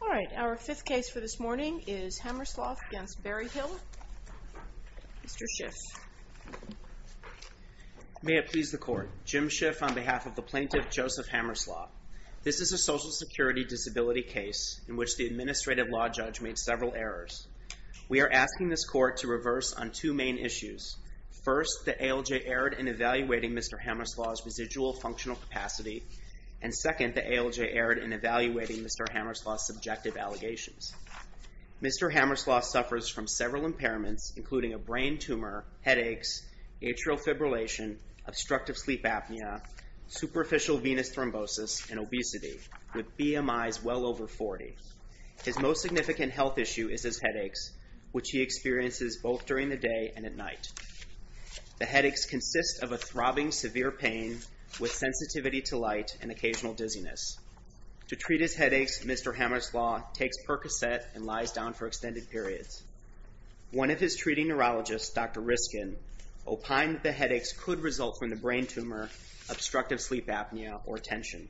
All right, our fifth case for this morning is Hammerslough v. Berryhill. Mr. Schiff. May it please the Court. Jim Schiff on behalf of the plaintiff, Joseph Hammerslough. This is a Social Security disability case in which the administrative law judge made several errors. We are asking this Court to reverse on two main issues. First, the ALJ erred in evaluating Mr. Hammerslough's residual functional capacity. And second, the ALJ erred in evaluating Mr. Hammerslough's subjective allegations. Mr. Hammerslough suffers from several impairments, including a brain tumor, headaches, atrial fibrillation, obstructive sleep apnea, superficial venous thrombosis, and obesity, with BMI's well over 40. His most significant health issue is his headaches, which he experiences both during the day and at night. The headaches consist of a throbbing, severe pain with sensitivity to light and occasional dizziness. To treat his headaches, Mr. Hammerslough takes Percocet and lies down for extended periods. One of his treating neurologists, Dr. Riskin, opined that the headaches could result from the brain tumor, obstructive sleep apnea, or tension.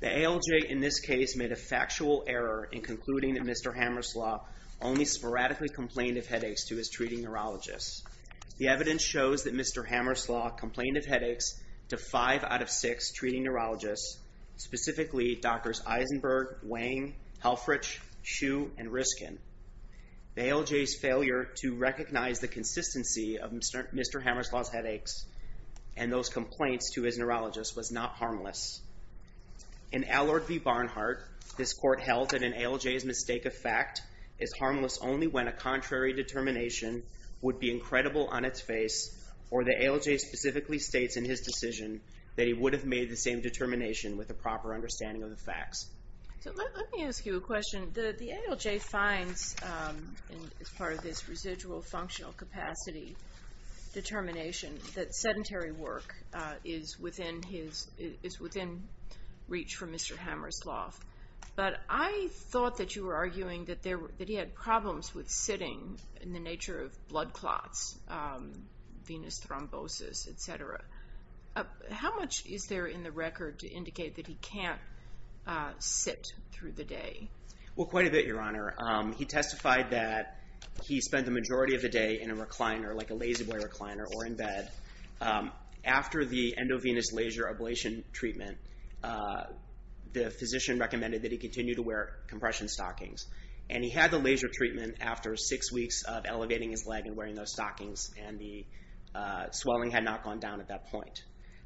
The ALJ in this case made a factual error in concluding that Mr. Hammerslough only sporadically complained of headaches to his treating neurologist. The evidence shows that Mr. Hammerslough complained of headaches to five out of six treating neurologists, specifically Drs. Eisenberg, Wang, Helfrich, Hsu, and Riskin. The ALJ's failure to recognize the consistency of Mr. Hammerslough's headaches and those complaints to his neurologist was not harmless. In Allard v. Barnhart, this court held that an ALJ's mistake of fact is harmless only when a contrary determination would be incredible on its face or the ALJ specifically states in his decision that he would have made the same determination with a proper understanding of the facts. So let me ask you a question. The ALJ finds, as part of this residual functional capacity determination, that sedentary work is within reach for Mr. Hammerslough, but I thought that you were arguing that he had problems with sitting in the nature of blood clots, venous thrombosis, etc. How much is there in the record to indicate that he can't sit through the day? Well, quite a bit, Your Honor. He testified that he spent the majority of the day in a recliner, like a Lazy Boy recliner, or in bed. After the endovenous laser ablation treatment, the physician recommended that he continue to wear compression stockings, and he had the laser treatment after six weeks of elevating his leg and wearing those stockings, and the swelling had not gone down at that point.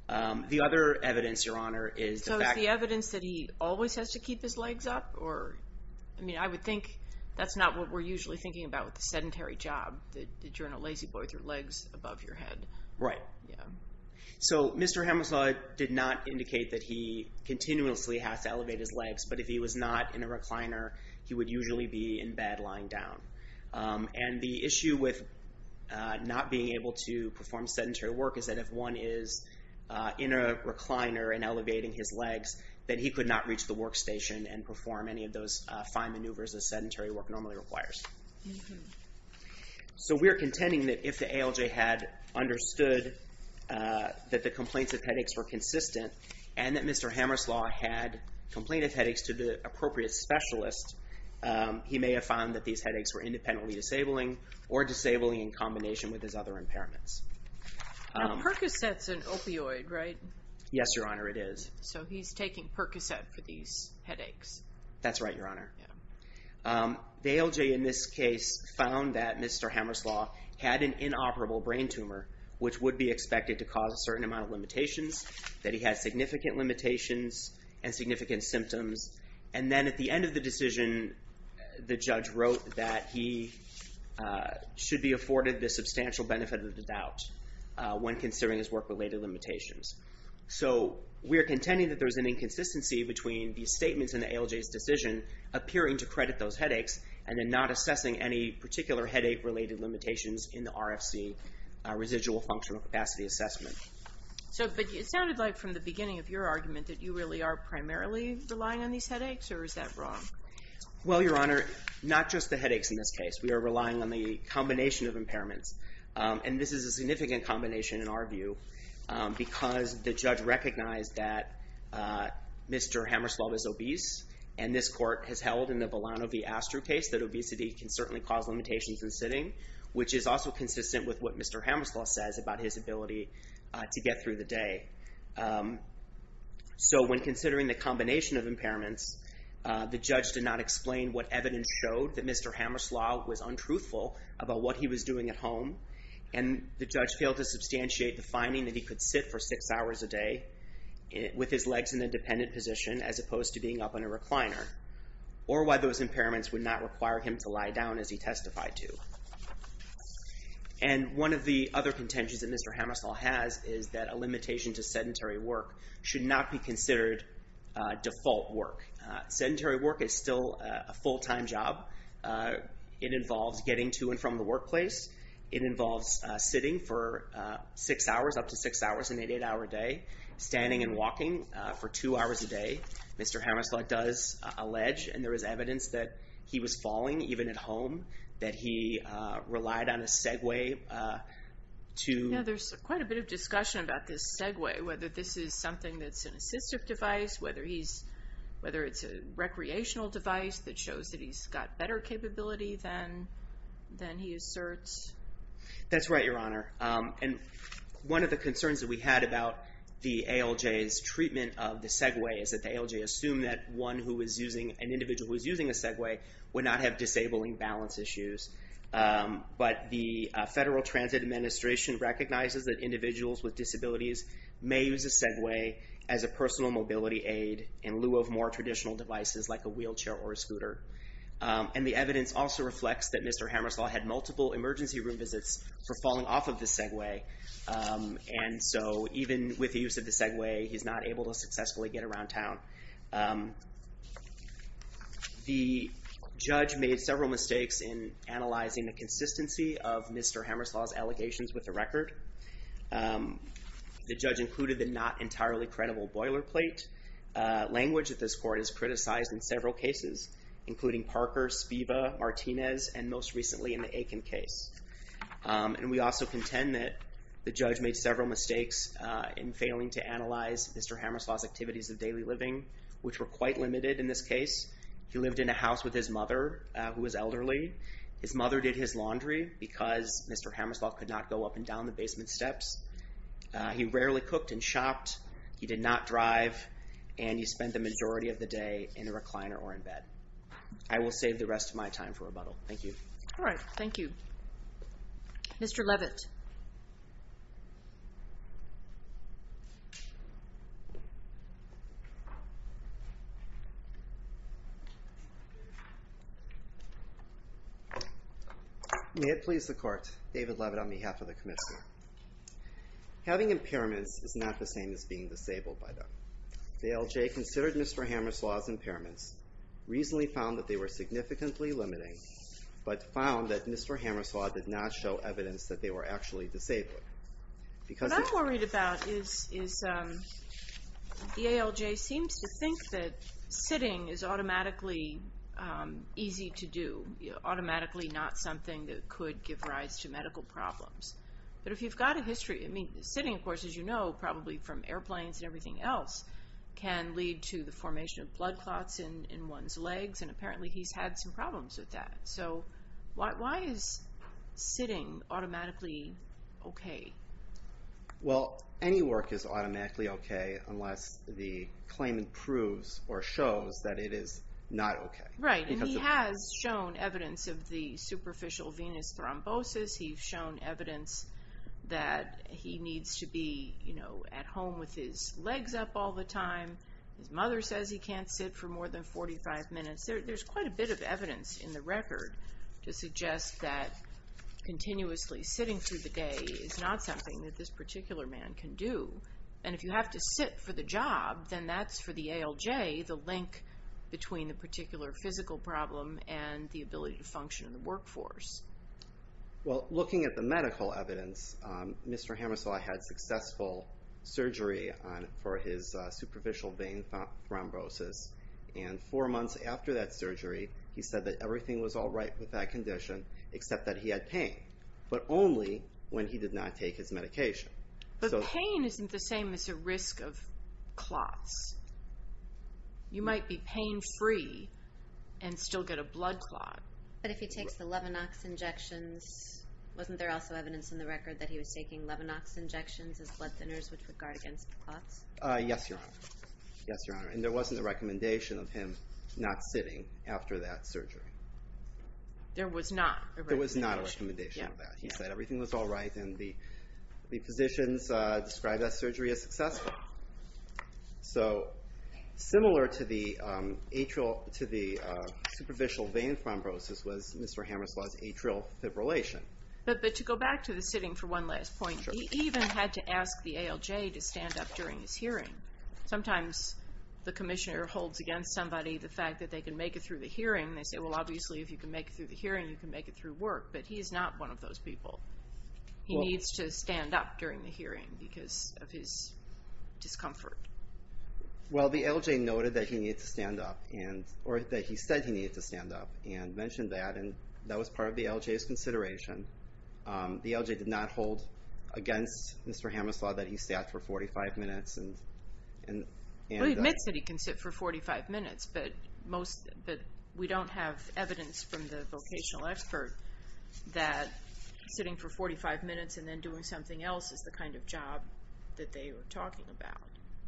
The other evidence, Your Honor, is the fact that... So is the evidence that he always has to keep his legs up, or... I mean, I would think that's not what we're usually thinking about with the sedentary job, that you're in a Lazy Boy with your legs above your head. Right. So Mr. Hammerslough did not indicate that he continuously has to elevate his legs, but if he was not in a recliner, he would usually be in bed lying down. And the issue with not being able to perform sedentary work is that if one is in a recliner and elevating his legs, that he could not reach the workstation and perform any of those fine maneuvers of the work that he requires. So we're contending that if the ALJ had understood that the complaints of headaches were consistent, and that Mr. Hammerslough had complaint of headaches to the appropriate specialist, he may have found that these headaches were independently disabling or disabling in combination with his other impairments. Now, Percocet's an opioid, right? Yes, Your Honor, it is. So he's taking Percocet for these headaches. That's right, Your Honor. The ALJ in this case found that Mr. Hammerslough had an inoperable brain tumor, which would be expected to cause a certain amount of limitations, that he had significant limitations and significant symptoms. And then at the end of the decision, the judge wrote that he should be afforded the substantial benefit of the doubt when considering his work-related limitations. So we're contending that there's an inconsistency between the statements in the ALJ's decision appearing to credit those headaches and then not assessing any particular headache-related limitations in the RFC residual functional capacity assessment. So, but it sounded like from the beginning of your argument that you really are primarily relying on these headaches, or is that wrong? Well, Your Honor, not just the headaches in this case. We are relying on the combination of impairments. And this is a significant combination in our view, because the judge recognized that Mr. Hammerslough is obese, and this court has held in the Villano v. Astru case that obesity can certainly cause limitations in sitting, which is also consistent with what Mr. Hammerslough says about his ability to get through the day. So when considering the combination of impairments, the judge did not explain what evidence showed that Mr. Hammerslough was untruthful about what he was doing at home, and the judge failed to substantiate the finding that he could sit for six hours a day with his legs in a dependent position as opposed to being up on a recliner, or why those impairments would not require him to lie down as he testified to. And one of the other contentions that Mr. Hammerslough has is that a limitation to sedentary work should not be considered default work. Sedentary work is still a full-time job. It involves getting to and from the workplace. It involves sitting for six hours, up to six hours, an eight-hour day, standing and walking for two hours a day. Mr. Hammerslough does allege, and there is evidence, that he was falling even at home, that he relied on a segue to... This is something that's an assistive device, whether it's a recreational device that shows that he's got better capability than he asserts. That's right, Your Honor. And one of the concerns that we had about the ALJ's treatment of the segue is that the ALJ assumed that one who was using, an individual who was using a segue, would not have disabling balance issues. But the Federal Transit Administration recognizes that individuals with disabilities may use a segue as a personal mobility aid in lieu of more traditional devices like a wheelchair or a scooter. And the evidence also reflects that Mr. Hammerslough had multiple emergency room visits for falling off of the segue. And so even with the use of the segue, he's not able to successfully get around town. The judge made several mistakes in analyzing the consistency of Mr. Hammerslough's allegations with the record. The judge included the not entirely credible boilerplate language that this court has criticized in several cases, including Parker, Spiva, Martinez, and most recently in the Aiken case. And we also contend that the judge made several mistakes in failing to analyze Mr. Hammerslough's activities of daily living, which were quite limited in this case. He lived in a house with his mother, who was elderly. His mother did his laundry because Mr. Hammerslough could not go up and down the basement steps. He rarely cooked and shopped. He did not drive. And he spent the majority of the day in a recliner or in bed. I will save the rest of my time for rebuttal. Thank you. All right. Thank you. Mr. Levitt. May it please the court. David Levitt on behalf of the commission. Having impairments is not the same as being disabled by them. The ALJ considered Mr. Hammerslough's impairments, reasonably found that they were significantly limiting, but found that Mr. Hammerslough did not show evidence that they were actually disabled. What I'm worried about is the ALJ seems to think that sitting is automatically easy to do, automatically not something that could give rise to medical problems. But if you've got a history, I mean, sitting, of course, as you know, probably from airplanes and everything else, can lead to the formation of blood clots in one's legs. And apparently he's had some sitting automatically. Okay. Well, any work is automatically okay, unless the claimant proves or shows that it is not okay. Right. And he has shown evidence of the superficial venous thrombosis. He's shown evidence that he needs to be, you know, at home with his legs up all the time. His mother says he can't sit for more than 45 minutes. There's quite a bit of evidence in the record to suggest that continuously sitting through the day is not something that this particular man can do. And if you have to sit for the job, then that's, for the ALJ, the link between the particular physical problem and the ability to function in the workforce. Well, looking at the medical evidence, Mr. Hammerslough had successful surgery for his superficial vein thrombosis. And four months after that surgery, he said that everything was all right with that condition, except that he had pain, but only when he did not take his medication. But pain isn't the same as a risk of clots. You might be pain-free and still get a blood clot. But if he takes the Levinox injections, wasn't there also evidence in the record that he was taking Levinox injections as blood thinners which would guard against clots? Yes, Your Honor. Yes, Your Honor. And there wasn't a recommendation of him not sitting after that surgery. There was not a recommendation. There was not a recommendation of that. He said everything was all right and the physicians described that surgery as successful. So similar to the atrial, to the superficial vein thrombosis was Mr. Hammerslough's atrial fibrillation. But to go back to the sitting for one last point, he even had to ask the ALJ to stand up during his hearing. Sometimes the commissioner holds against somebody the fact that they can make it through the hearing. They say, well, obviously if you can make it through the hearing, you can make it through work. But he is not one of those people. He needs to stand up during the hearing because of his discomfort. Well, the ALJ noted that he needed to stand up, or that he said he needed to stand up and mentioned that, and that was part of the ALJ's consideration. The ALJ did not hold against Mr. Hammerslough that he sat for 45 minutes and... Well, he admits that he can sit for 45 minutes, but we don't have evidence from the vocational expert that sitting for 45 minutes and then doing something else is the kind of job that they were talking about.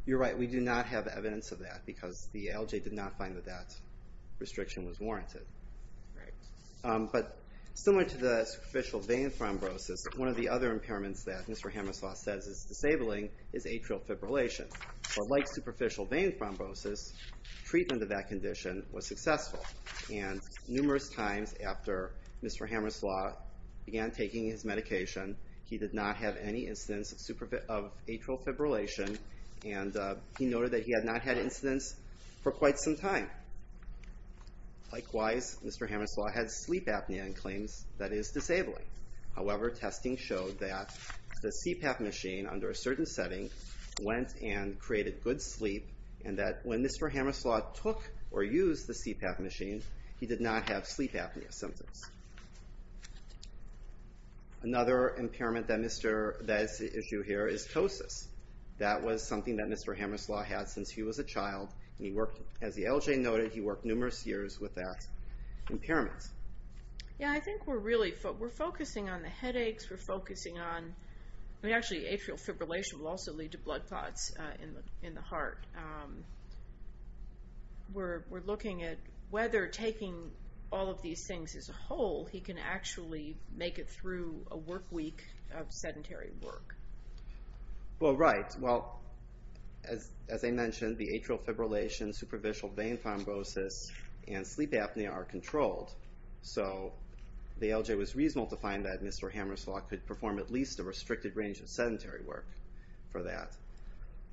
You're right. We do not have evidence of that because the ALJ did not find that that restriction was warranted. Right. But similar to the superficial vein thrombosis, one of the other impairments that Mr. Hammerslough says is disabling is atrial fibrillation. But like superficial vein thrombosis, treatment of that condition was successful. And numerous times after Mr. Hammerslough began taking his medication, he did not have any incidence of atrial fibrillation, and he noted that he had not had incidence for quite some time. Likewise, Mr. Hammerslough had sleep apnea in claims that is disabling. However, testing showed that the CPAP machine under a certain setting went and created good sleep, and that when Mr. Hammerslough took or used the CPAP machine, he did not have sleep apnea symptoms. Another impairment that is at issue here is ptosis. That was something that Mr. Hammerslough had since he was a child. He worked, as the ALJ noted, he worked numerous years with that impairment. Yeah, I think we're really, we're focusing on the headaches, we're focusing on, I mean actually atrial fibrillation will also lead to blood clots in the heart. We're looking at whether taking all of these things as a whole, he can actually make it through a work week of sedentary work. Well, right. Well, as I mentioned, the atrial fibrillation, superficial vein thrombosis, and sleep apnea are controlled. So, the ALJ was reasonable to find that Mr. Hammerslough could perform at least a restricted range of sedentary work for that.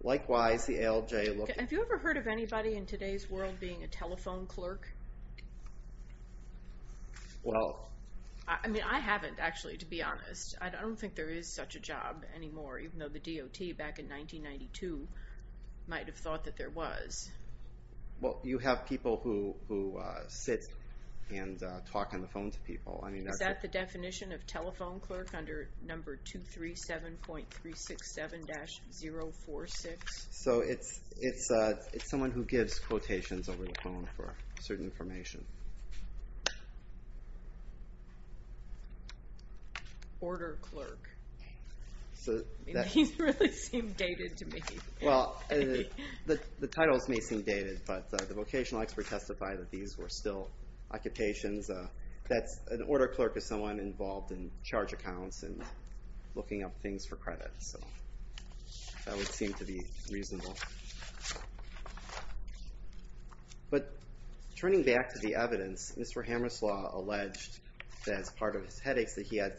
Likewise, the ALJ looked- Have you ever heard of anybody in today's world being a telephone clerk? Well- I mean, I haven't actually, to be honest. I don't think there is such a job anymore, even though the DOT back in 1992 might have thought that there was. Well, you have people who sit and talk on the phone to people. I mean- Is that the definition of telephone clerk under number 237.367-046? So, it's someone who gives quotations over the phone for certain information. Order clerk. These really seem dated to me. Well, the titles may seem dated, but the vocational expert testified that these were still occupations. An order clerk is someone involved in charge accounts and looking up things for credit. So, that would seem to be reasonable. But, turning back to the evidence, Mr. Hammerslough alleged that as part of his headaches, that he had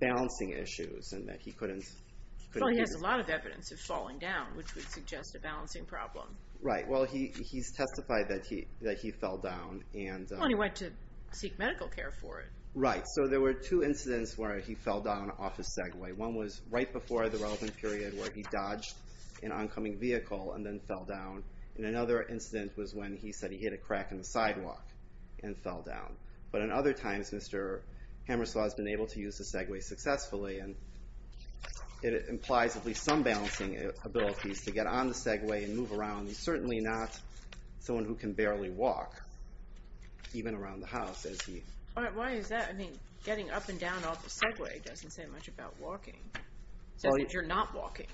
balancing issues and that he couldn't- Well, he has a lot of evidence of falling down, which would suggest a balancing problem. Right. Well, he's testified that he fell down and- Well, he went to seek medical care for it. Right. So, there were two incidents where he fell down off his Segway. One was right before the relevant period where he dodged an oncoming vehicle and then fell down. And another incident was when he said he hit a crack in the sidewalk and fell down. But, in other times, Mr. Hammerslough has been able to use the Segway successfully. And it implies at least some balancing abilities to get on the Segway and move around. He's certainly not someone who can barely walk, even around the house, as he- Why is that? I mean, getting up and down off the Segway doesn't say much about walking. It says that you're not walking.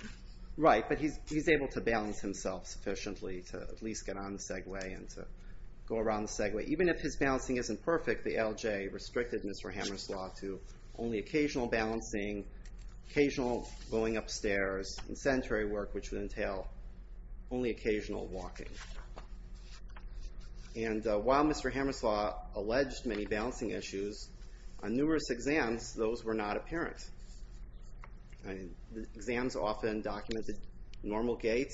Right. But he's able to balance himself sufficiently to at least get on the Segway and to go around the Segway. Even if his balancing isn't perfect, the LJ restricted Mr. Hammerslough to only occasional balancing, occasional going upstairs, and sedentary work, which would entail only occasional walking. And while Mr. Hammerslough alleged many balancing issues, on numerous exams, those were not apparent. Exams often documented normal gait.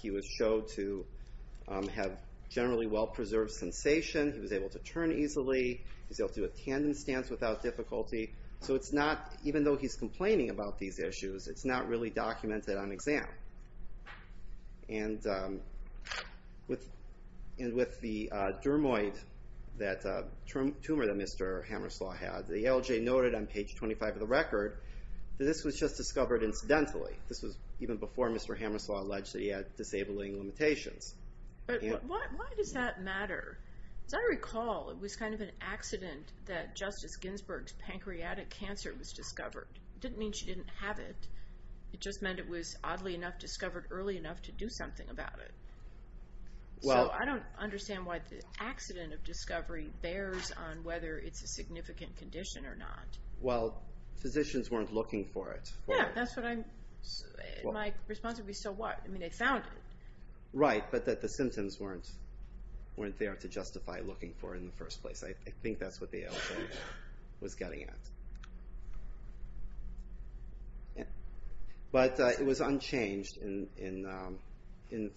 He was shown to have generally well-preserved sensation. He was able to turn easily. He was able to do a tandem stance without difficulty. So it's not, even though he's complaining about these issues, it's not really documented on exam. And with the tumor that Mr. Hammerslough had, the LJ noted on page 25 of the record, that this was just discovered incidentally. This was even before Mr. Hammerslough alleged that he had disabling limitations. But why does that matter? As I recall, it was kind of an accident that Justice Ginsburg's pancreatic cancer was discovered. It didn't mean she didn't have it. It just meant it was, oddly enough, discovered early enough to do something about it. So I don't understand why the accident of discovery bears on whether it's a significant condition or not. Well, physicians weren't looking for it. Yeah, that's what I'm, my response would be, so what? I mean, they found it. Right, but that the symptoms weren't there to justify looking for it in the first place. I think that's what the LJ was getting at. But it was unchanged in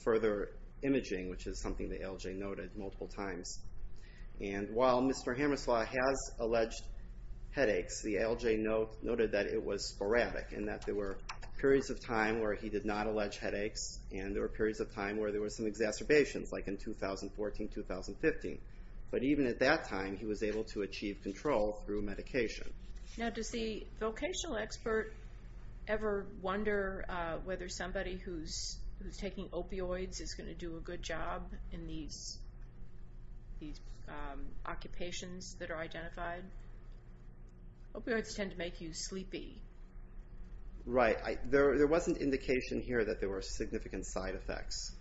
further imaging, which is something the LJ noted multiple times. And while Mr. Hammerslough has alleged headaches, the LJ noted that it was sporadic, and that there were periods of time where he did not allege headaches, and there were periods of time where there were some exacerbations, like in 2014, 2015. But even at that time, he was able to achieve control through medication. Now, does the vocational expert ever wonder whether somebody who's taking opioids is going to do a good job in these occupations that are identified? Opioids tend to make you sleepy. Right, there was an indication here that there were significant side effects.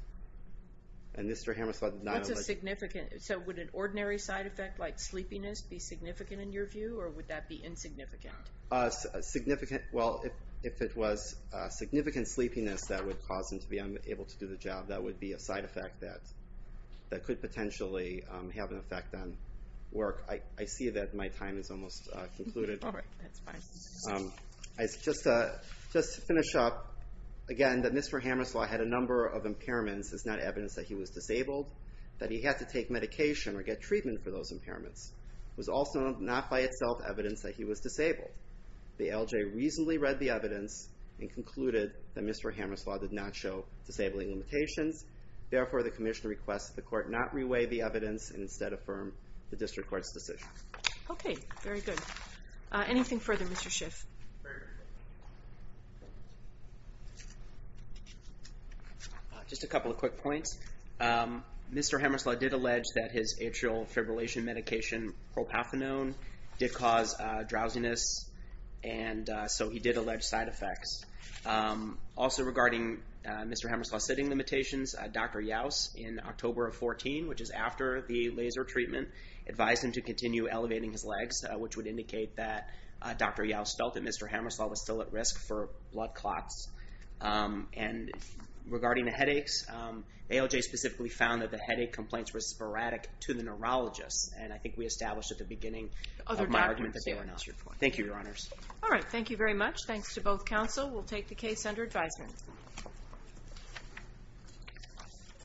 And Mr. Hammerslough did not allege... What's a significant, so would an ordinary side effect like sleepiness be significant in your view, or would that be insignificant? Significant, well, if it was significant sleepiness that would cause him to be unable to do the job, that would be a side effect that could potentially have an effect on work. I see that my time has almost concluded. All right, that's fine. Just to finish up, again, that Mr. Hammerslough had a number of impairments is not evidence that he was disabled, that he had to take medication or get treatment for those impairments was also not by itself evidence that he was disabled. The LJ reasonably read the evidence and concluded that Mr. Hammerslough did not show disabling limitations. Therefore, the commission requests that the court not reweigh the evidence and instead affirm the district court's decision. Okay, very good. Anything further, Mr. Schiff? Just a couple of quick points. Mr. Hammerslough did allege that his atrial fibrillation medication, propafinone, did cause drowsiness, and so he did allege side effects. Also regarding Mr. Hammerslough's sitting limitations, Dr. Youse in October of 2014, which is after the laser treatment, advised him to continue elevating his legs, which would indicate that Dr. Youse felt that Mr. Hammerslough was still at risk for blood clots. And regarding the headaches, ALJ specifically found that the headache complaints were sporadic to the neurologist, and I think we established at the beginning of my argument that they were not. Thank you, Your Honors. All right. Thank you very much. Thanks to both counsel. We'll take the case under advisement.